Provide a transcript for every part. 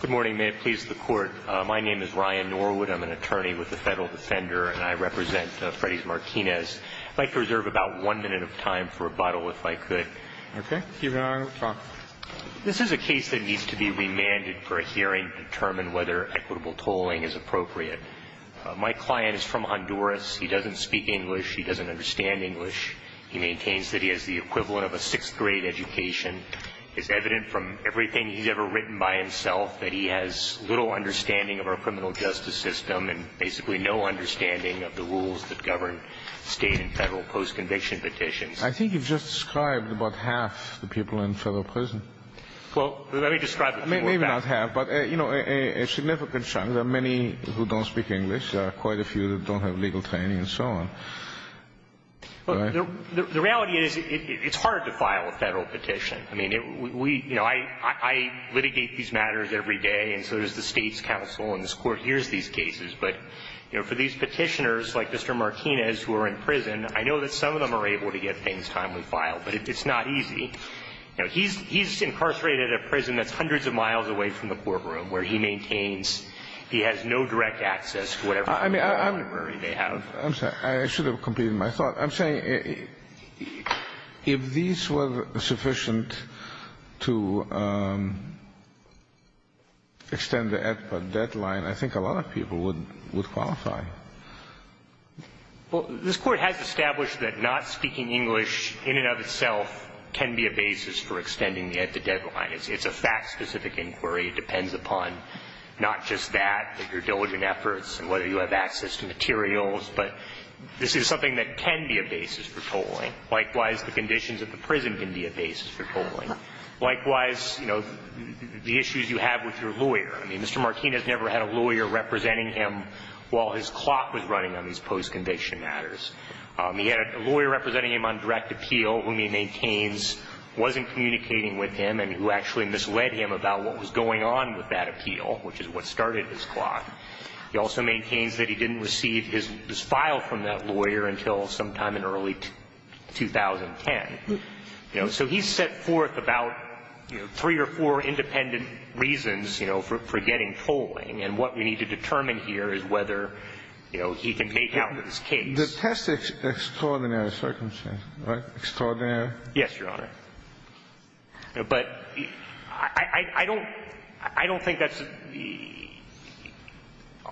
Good morning. May it please the Court. My name is Ryan Norwood. I'm an attorney with the Federal Defender, and I represent Freydys Martinez. I'd like to reserve about one minute of time for rebuttal, if I could. Okay. You may begin. This is a case that needs to be remanded for a hearing to determine whether equitable tolling is appropriate. My client is from Honduras. He doesn't speak English. He doesn't understand English. He maintains that he has the equivalent of a sixth grade education. It's evident from everything he's ever written by himself that he has little understanding of our criminal justice system and basically no understanding of the rules that govern state and federal post-conviction petitions. I think you've just described about half the people in federal prison. Well, let me describe a few more facts. Maybe not half, but, you know, a significant chunk. There are many who don't speak English. There are quite a few who don't have legal training and so on. The reality is it's hard to file a Federal petition. I mean, we, you know, I litigate these matters every day, and so does the State's counsel, and this Court hears these cases. But, you know, for these petitioners like Mr. Martinez who are in prison, I know that some of them are able to get things timely filed, but it's not easy. You know, he's incarcerated at a prison that's hundreds of miles away from the courtroom where he maintains he has no direct access to whatever library they have. I'm sorry. I should have completed my thought. I'm saying if these were sufficient to extend the at-the-deadline, I think a lot of people would qualify. Well, this Court has established that not speaking English in and of itself can be a basis for extending the at-the-deadline. It's a fact-specific inquiry. It depends upon not just that, but your diligent efforts and whether you have access to materials. But this is something that can be a basis for tolling. Likewise, the conditions at the prison can be a basis for tolling. Likewise, you know, the issues you have with your lawyer. I mean, Mr. Martinez never had a lawyer representing him while his clock was running on these post-conviction matters. He had a lawyer representing him on direct appeal whom he maintains wasn't communicating with him and who actually misled him about what was going on with that appeal, which is what started his clock. He also maintains that he didn't receive his file from that lawyer until sometime in early 2010. You know, so he's set forth about, you know, three or four independent reasons, you know, for getting tolling. And what we need to determine here is whether, you know, he can take out his case. The test extraordinary circumstances, right? Extraordinary? Yes, Your Honor. But I don't think that's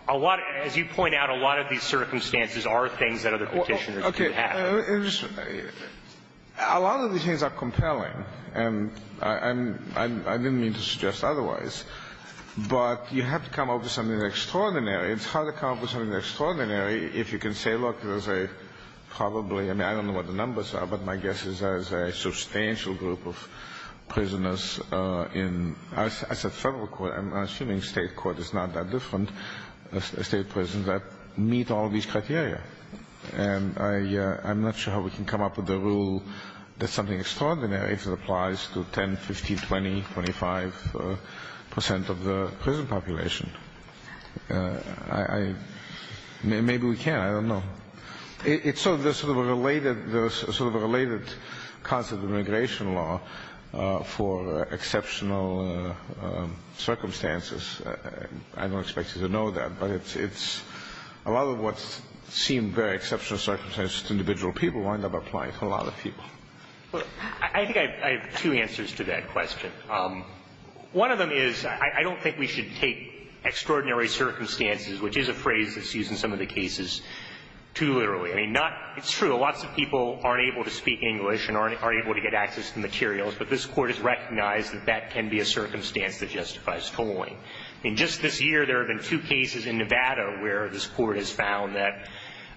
a lot of as you point out, a lot of these circumstances are things that other Petitioners do have. Okay. A lot of these things are compelling, and I didn't mean to suggest otherwise. But you have to come up with something extraordinary. It's hard to come up with something extraordinary if you can say, look, there's a probably I mean, I don't know what the numbers are, but my guess is there's a substantial group of prisoners in I said federal court. I'm assuming state court is not that different, state prisons that meet all these criteria. And I'm not sure how we can come up with a rule that's something extraordinary if it applies to 10, 15, 20, 25 percent of the prison population. Maybe we can. I don't know. It's sort of a related concept of immigration law for exceptional circumstances. I don't expect you to know that. But it's a lot of what seemed very exceptional circumstances to individual people wind up applying to a lot of people. Well, I think I have two answers to that question. One of them is I don't think we should take extraordinary circumstances, which is a phrase that's used in some of the cases, too literally. I mean, it's true. Lots of people aren't able to speak English and aren't able to get access to materials. But this Court has recognized that that can be a circumstance that justifies tolling. I mean, just this year there have been two cases in Nevada where this Court has found that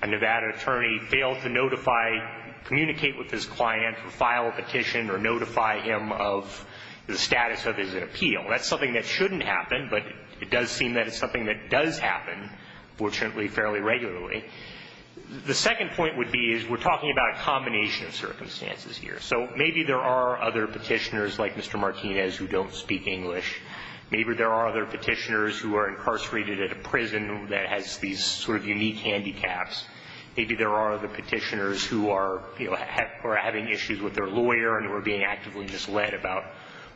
a Nevada attorney failed to notify, communicate with his client, file a petition or notify him of the status of his appeal. That's something that shouldn't happen, but it does seem that it's something that does happen, fortunately, fairly regularly. The second point would be is we're talking about a combination of circumstances here. So maybe there are other petitioners like Mr. Martinez who don't speak English. Maybe there are other petitioners who are incarcerated at a prison that has these sort of unique handicaps. Maybe there are other petitioners who are having issues with their lawyer and who are being actively misled about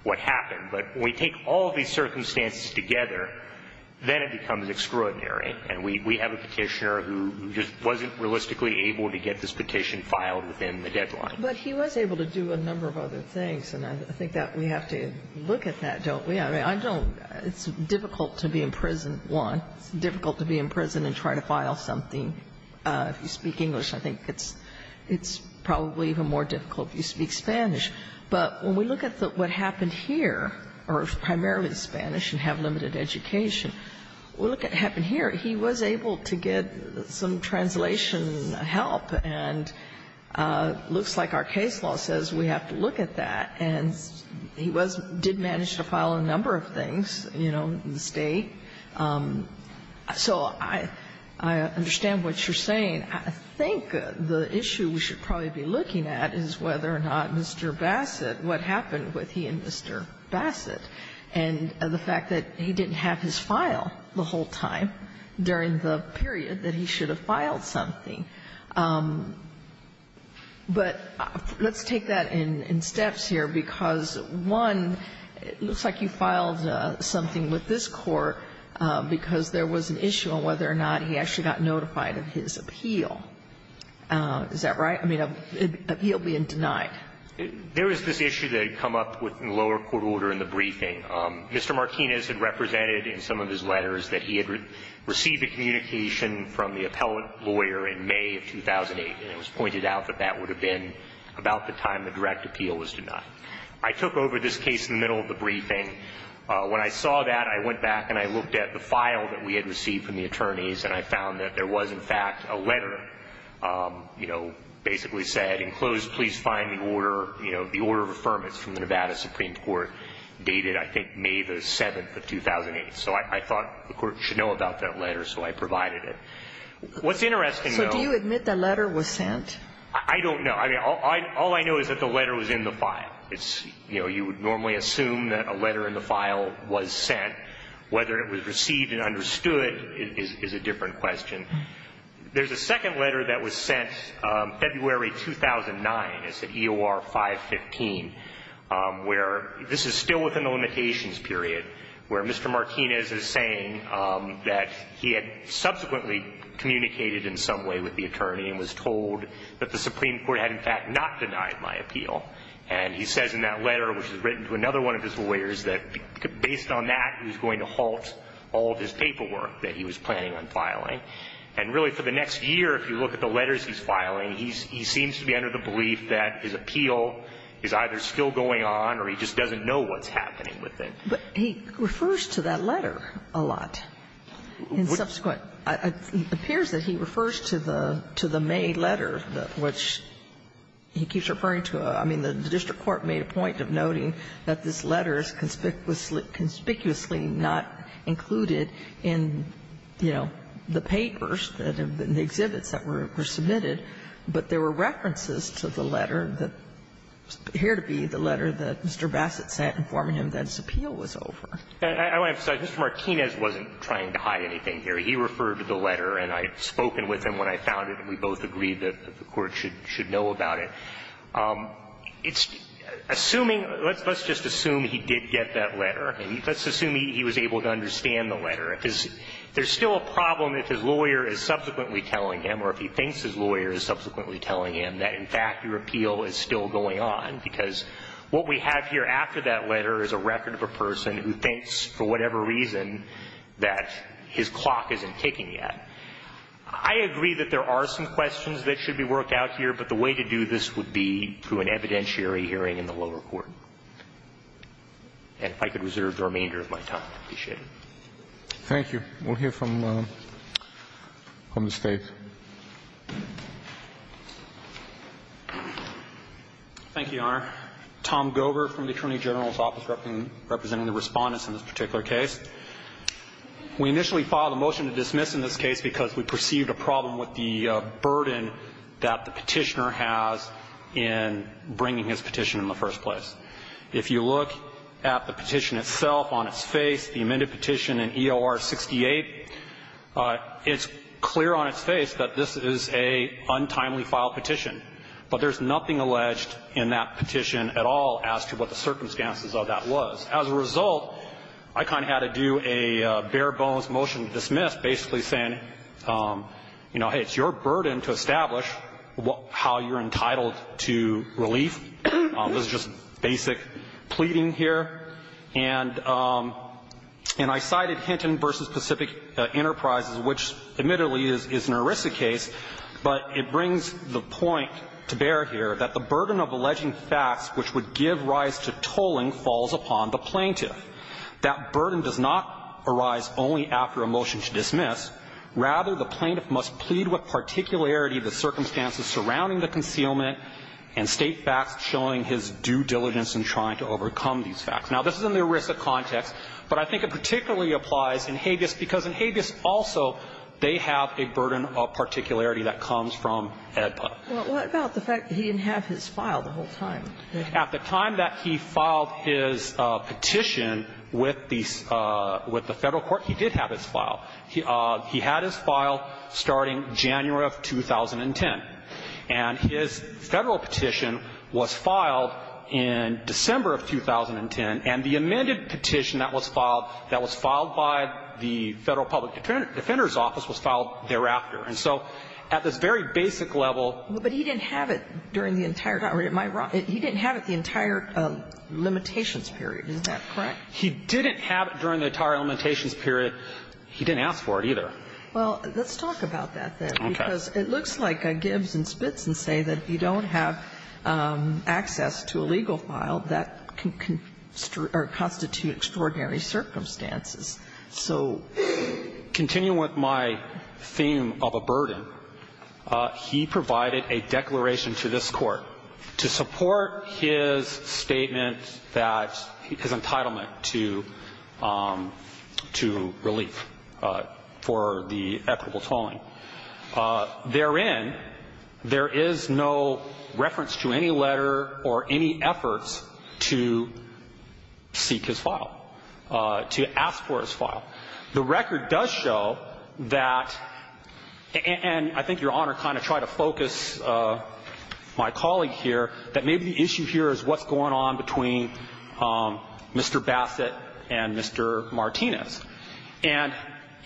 what happened. But when we take all of these circumstances together, then it becomes extraordinary. And we have a petitioner who just wasn't realistically able to get this petition filed within the deadline. But he was able to do a number of other things, and I think that we have to look at that, don't we? I mean, I don't – it's difficult to be in prison, one. It's difficult to be in prison and try to file something if you speak English. I think it's probably even more difficult if you speak Spanish. But when we look at what happened here, or primarily Spanish and have limited education, what happened here, he was able to get some translation help. And it looks like our case law says we have to look at that. And he did manage to file a number of things, you know, in the State. So I understand what you're saying. I think the issue we should probably be looking at is whether or not Mr. Bassett – what happened with he and Mr. Bassett and the fact that he didn't have his file the whole time during the period that he should have filed something. But let's take that in steps here, because, one, it looks like you filed something with this Court because there was an issue on whether or not he actually got notified of his appeal. Is that right? I mean, appeal being denied. There was this issue that had come up within the lower court order in the briefing. Mr. Martinez had represented in some of his letters that he had received a communication from the appellate lawyer in May of 2008, and it was pointed out that that would have been about the time the direct appeal was denied. I took over this case in the middle of the briefing. When I saw that, I went back and I looked at the file that we had received from the attorneys, and I found that there was, in fact, a letter, you know, basically said, enclosed, please find the order – you know, the order of affirmance from the Nevada Supreme Court dated, I think, May the 7th of 2008. So I thought the Court should know about that letter, so I provided it. What's interesting, though – So do you admit the letter was sent? I don't know. I mean, all I know is that the letter was in the file. It's – you know, you would normally assume that a letter in the file was sent. Whether it was received and understood is a different question. There's a second letter that was sent February 2009. It's at EOR 515, where – this is still within the limitations period, where Mr. Martinez is saying that he had subsequently communicated in some way with the attorney and was told that the Supreme Court had, in fact, not denied my appeal. And he says in that letter, which was written to another one of his lawyers, that based on that, he was going to halt all of his paperwork that he was planning on filing. And really, for the next year, if you look at the letters he's filing, he seems to be under the belief that his appeal is either still going on or he just doesn't know what's happening with it. But he refers to that letter a lot in subsequent – it appears that he refers to the May letter, which he keeps referring to. I mean, the district court made a point of noting that this letter was conspicuously not included in, you know, the papers, the exhibits that were submitted, but there were references to the letter that appeared to be the letter that Mr. Bassett sent informing him that his appeal was over. And I want to emphasize, Mr. Martinez wasn't trying to hide anything here. He referred to the letter, and I had spoken with him when I found it, and we both agreed that the Court should know about it. It's assuming – let's just assume he did get that letter. I mean, let's assume he was able to understand the letter. If there's still a problem if his lawyer is subsequently telling him or if he thinks his lawyer is subsequently telling him that, in fact, your appeal is still going on, because what we have here after that letter is a record of a person who thinks, for whatever reason, that his clock isn't ticking yet. I agree that there are some questions that should be worked out here, but the way to do this would be through an evidentiary hearing in the lower court. And if I could reserve the remainder of my time, I'd appreciate it. Thank you. We'll hear from the State. Thank you, Your Honor. Tom Gover from the Attorney General's Office representing the Respondents in this particular case. We initially filed a motion to dismiss in this case because we perceived a problem with the burden that the Petitioner has in bringing his petition in the first place. If you look at the petition itself on its face, the amended petition in EOR 68, it's clear on its face that this is an untimely filed petition, but there's nothing alleged in that petition at all as to what the circumstances of that was. As a result, I kind of had to do a bare-bones motion to dismiss, basically saying, you know, hey, it's your burden to establish how you're entitled to relief. This is just basic pleading here. And I cited Hinton v. Pacific Enterprises, which admittedly is an ERISA case, but it brings the point to bear here that the burden of alleging facts which would give rise to tolling falls upon the plaintiff. That burden does not arise only after a motion to dismiss. Rather, the plaintiff must plead with particularity the circumstances surrounding the concealment and state facts showing his due diligence in trying to overcome these facts. Now, this is in the ERISA context, but I think it particularly applies in Habeas because in Habeas also they have a burden of particularity that comes from Ed Putnam. Well, what about the fact that he didn't have his file the whole time? At the time that he filed his petition with the Federal court, he did have his file. He had his file starting January of 2010. And his Federal petition was filed in December of 2010, and the amended petition that was filed, that was filed by the Federal Public Defender's Office was filed thereafter. And so at this very basic level ---- But he didn't have it during the entire time. It might be wrong. He didn't have it the entire limitations period. Is that correct? He didn't have it during the entire limitations period. He didn't ask for it either. Well, let's talk about that, then. Okay. Because it looks like Gibbs and Spitzen say that if you don't have access to a legal file, that can constitute extraordinary circumstances. So ---- Continuing with my theme of a burden, he provided a declaration to this Court to support his statement that his entitlement to relief for the equitable tolling. Therein, there is no reference to any letter or any efforts to seek his file, to ask for his file. The record does show that, and I think Your Honor kind of tried to focus my colleague here, that maybe the issue here is what's going on between Mr. Bassett and Mr. Martinez.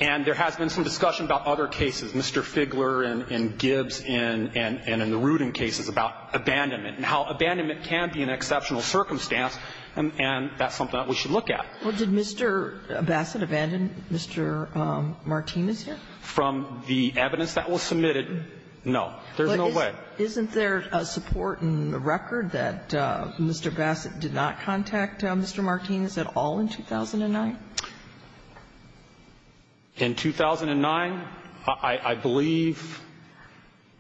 And there has been some discussion about other cases, Mr. Figler and Gibbs and in the Rudin cases about abandonment and how abandonment can be an exceptional circumstance, and that's something that we should look at. Well, did Mr. Bassett abandon Mr. Martinez here? From the evidence that was submitted, no. There's no way. Isn't there a support in the record that Mr. Bassett did not contact Mr. Martinez at all in 2009? In 2009, I believe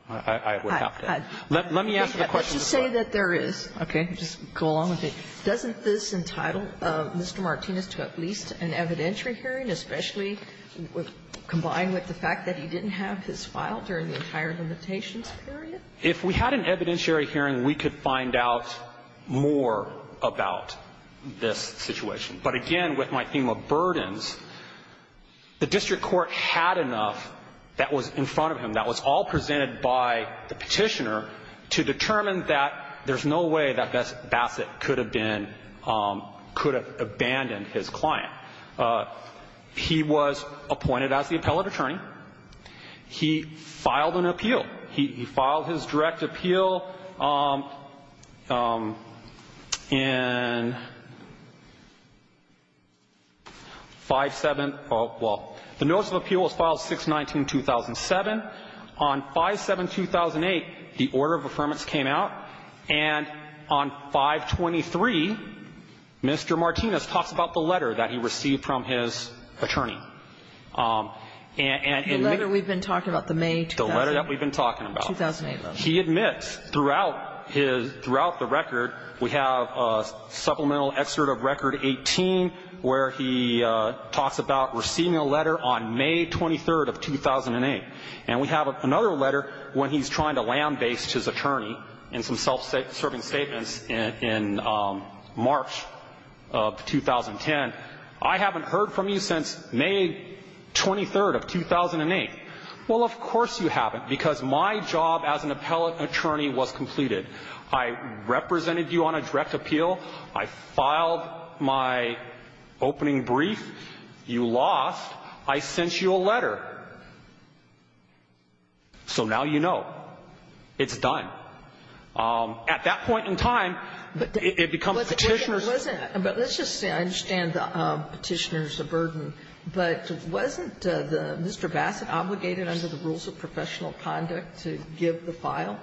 I would have to add. Let me answer the question. Let's just say that there is. Okay. Just go along with it. Doesn't this entitle Mr. Martinez to at least an evidentiary hearing, especially combined with the fact that he didn't have his file during the entire limitations period? If we had an evidentiary hearing, we could find out more about this situation. But again, with my theme of burdens, the district court had enough that was in front of him, that was all presented by the petitioner to determine that there's no way that Bassett could have been, could have abandoned his client. He was appointed as the appellate attorney. He filed an appeal. He filed his direct appeal in 5-7. Well, the notice of appeal was filed 6-19-2007. On 5-7-2008, the order of affirmance came out. And on 5-23, Mr. Martinez talks about the letter that he received from his attorney. The letter we've been talking about, the May 2008 letter. The letter that we've been talking about. 2008 letter. He admits throughout his, throughout the record, we have a supplemental excerpt of record 18 where he talks about receiving a letter on May 23rd of 2008. And we have another letter when he's trying to lambaste his attorney in some self-serving statements in March of 2010. I haven't heard from you since May 23rd of 2008. Well, of course you haven't, because my job as an appellate attorney was completed. I represented you on a direct appeal. I filed my opening brief. You lost. I sent you a letter. So now you know. It's done. At that point in time, it becomes petitioner's ---- But let's just say I understand the petitioner's burden. But wasn't Mr. Bassett obligated under the rules of professional conduct to give the file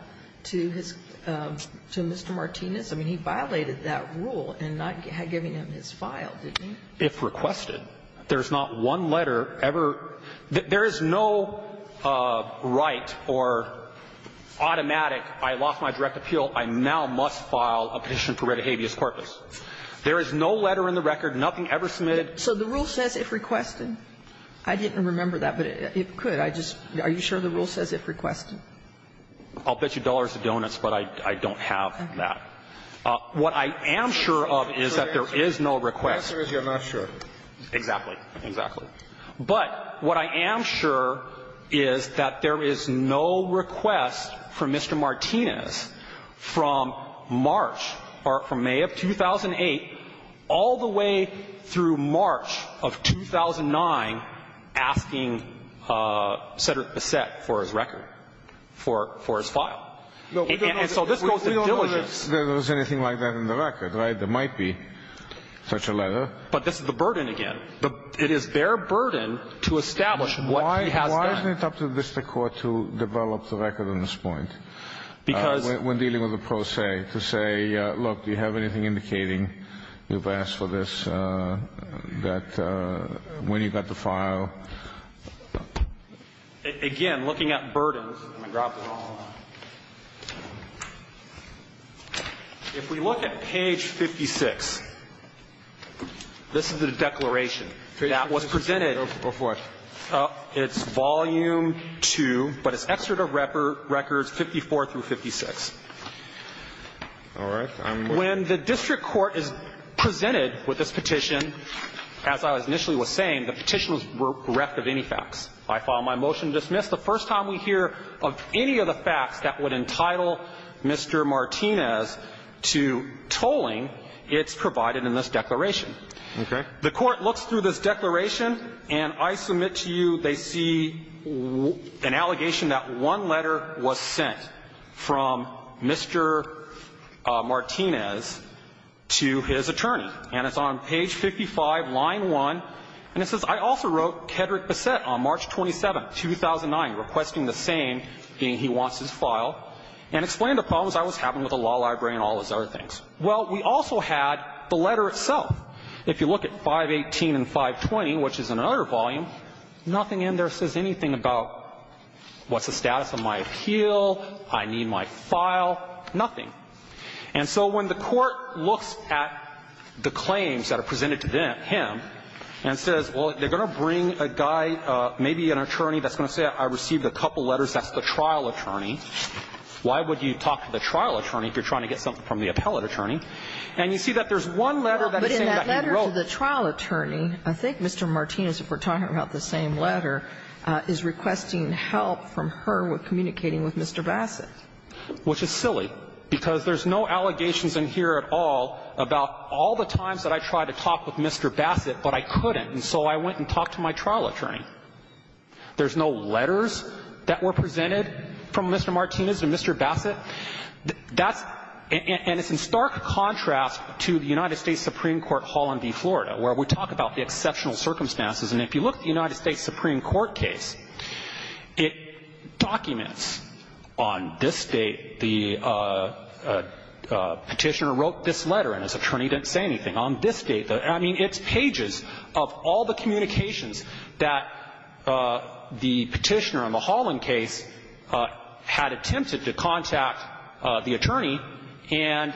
to his, to Mr. Martinez? I mean, he violated that rule in not giving him his file, didn't he? If requested. There's not one letter ever. There is no right or automatic, I lost my direct appeal, I now must file a petition for red habeas corpus. There is no letter in the record, nothing ever submitted. So the rule says if requested? I didn't remember that, but it could. I just, are you sure the rule says if requested? I'll bet you dollars and donuts, but I don't have that. What I am sure of is that there is no request. The answer is you're not sure. Exactly. Exactly. But what I am sure is that there is no request from Mr. Martinez from March, or from May of 2008, all the way through March of 2009, asking Cedric Bassett for his record, for his file. And so this goes to diligence. We don't know if there was anything like that in the record, right? There might be such a letter. But this is the burden again. It is their burden to establish what he has done. Why isn't it up to the district court to develop the record on this point? Because. When dealing with a pro se, to say, look, do you have anything indicating you've asked for this, that when you got the file? Again, looking at burdens, if we look at page 56, this is the declaration. That was presented. Go for it. It's volume 2, but it's excerpt of records 54 through 56. All right. When the district court is presented with this petition, as I was initially was saying, the petition was bereft of any facts. I file my motion to dismiss. The first time we hear of any of the facts that would entitle Mr. Martinez to tolling, it's provided in this declaration. Okay. The court looks through this declaration, and I submit to you they see an allegation that one letter was sent from Mr. Martinez to his attorney. And it's on page 55, line 1. And it says, I also wrote Kedrick Bassett on March 27, 2009, requesting the same, being he wants his file, and explained the problems I was having with the law library and all those other things. Well, we also had the letter itself. If you look at 518 and 520, which is another volume, nothing in there says anything about what's the status of my appeal, I need my file, nothing. And so when the court looks at the claims that are presented to them, him, and says, well, they're going to bring a guy, maybe an attorney that's going to say I received a couple letters, that's the trial attorney, why would you talk to the trial attorney if you're trying to get something from the appellate attorney? And you see that there's one letter that is saying that he wrote the same letter. But in that letter to the trial attorney, I think Mr. Martinez, if we're talking about the same letter, is requesting help from her with communicating with Mr. Bassett. Which is silly, because there's no allegations in here at all about all the times that I tried to talk with Mr. Bassett, but I couldn't, and so I went and talked to my trial attorney. There's no letters that were presented from Mr. Martinez to Mr. Bassett. That's — and it's in stark contrast to the United States Supreme Court, Holland v. Florida, where we talk about the exceptional circumstances. And if you look at the United States Supreme Court case, it documents on this date the Petitioner wrote this letter, and his attorney didn't say anything. On this date — I mean, it's pages of all the communications that the Petitioner on the Holland case had attempted to contact the attorney, and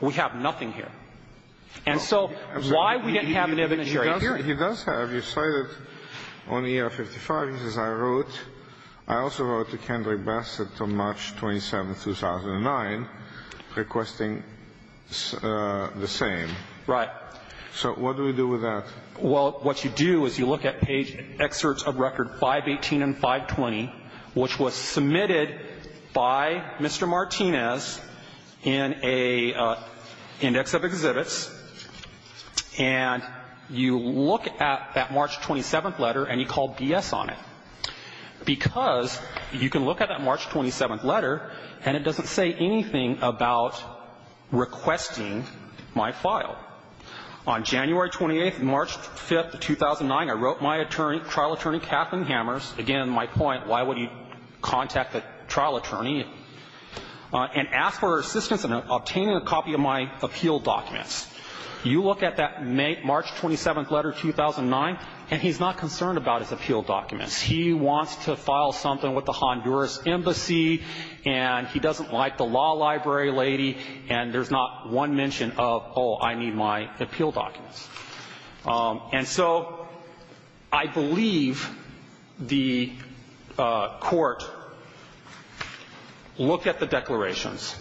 we have nothing here. And so why we didn't have an evidence right here — He does have. You cite it on the year 55. He says, I wrote. I also wrote to Kendrick Bassett on March 27, 2009, requesting the same. Right. So what do we do with that? Well, what you do is you look at page excerpts of record 518 and 520, which was submitted by Mr. Martinez in a index of exhibits, and you look at that March 27th letter and you call BS on it, because you can look at that March 27th letter and it doesn't say anything about requesting my file. On January 28, March 5, 2009, I wrote my attorney, trial attorney Kathleen Hammers — again, my point, why would you contact a trial attorney — and asked for her assistance in obtaining a copy of my appeal documents. You look at that March 27th letter, 2009, and he's not concerned about his appeal documents. He wants to file something with the Honduras Embassy, and he doesn't like the law library lady, and there's not one mention of, oh, I need my appeal documents. And so I believe the court looked at the declarations,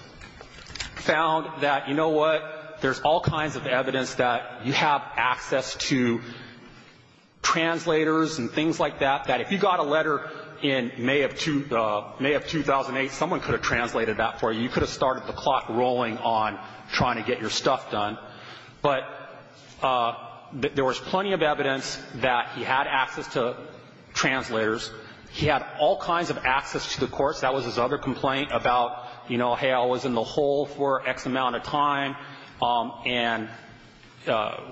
found that, you know what, there's all kinds of evidence that you have access to translators and things like that, that if you got a letter in May of 2008, someone could have translated that for you. You could have started the clock rolling on trying to get your stuff done. But there was plenty of evidence that he had access to translators. He had all kinds of access to the courts. That was his other complaint about, you know, hey, I was in the hole for X amount of time, and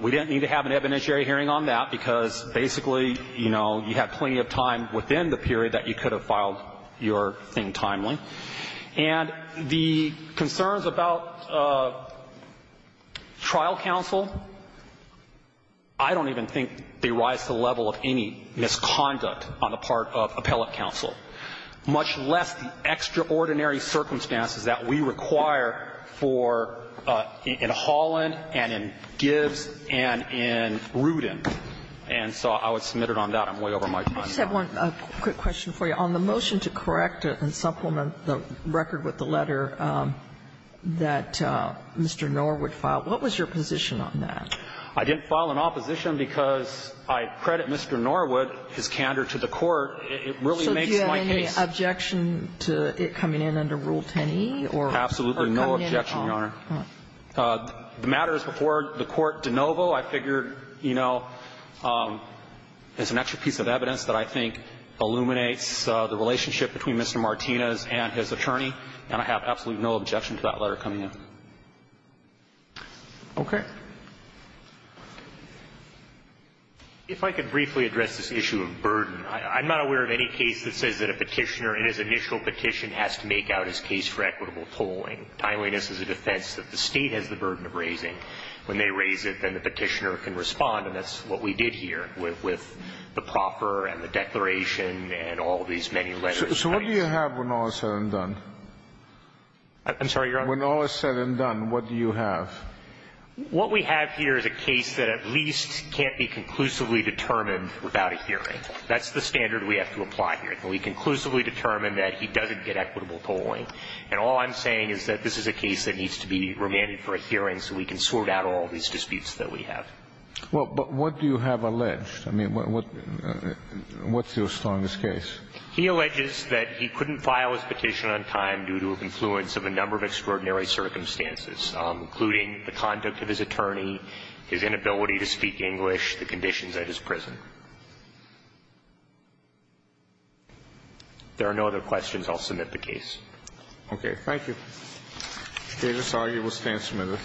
we didn't need to have an evidentiary hearing on that, because basically, you know, you had plenty of time within the period that you could have filed your thing timely. And the concerns about trial counsel, I don't even think they rise to the level of any misconduct on the part of appellate counsel, much less the extraordinary circumstances that we require for in Holland and in Gibbs and in Rudin. And so I would submit it on that. I'm way over my time now. I just have one quick question for you. On the motion to correct and supplement the record with the letter that Mr. Norwood filed, what was your position on that? I didn't file an opposition because I credit Mr. Norwood, his candor to the court. It really makes my case. So do you have any objection to it coming in under Rule 10e or coming in at all? Absolutely no objection, Your Honor. The matter is before the court de novo. I figured, you know, it's an extra piece of evidence that I think illuminates the relationship between Mr. Martinez and his attorney, and I have absolutely no objection to that letter coming in. Okay. If I could briefly address this issue of burden. I'm not aware of any case that says that a petitioner in his initial petition has to make out his case for equitable tolling. Timeliness is a defense that the State has the burden of raising. When they raise it, then the petitioner can respond, and that's what we did here with the proffer and the declaration and all these many letters. So what do you have when all is said and done? I'm sorry, Your Honor? When all is said and done, what do you have? What we have here is a case that at least can't be conclusively determined without a hearing. That's the standard we have to apply here. We conclusively determine that he doesn't get equitable tolling, and all I'm saying is that this is a case that needs to be remanded for a hearing so we can sort out all these disputes that we have. Well, but what do you have alleged? I mean, what's your strongest case? He alleges that he couldn't file his petition on time due to a confluence of a number of extraordinary circumstances, including the conduct of his attorney, his inability to speak English, the conditions at his prison. There are no other questions. I'll submit the case. Okay. Thank you. The case is argued. We'll stand submitted.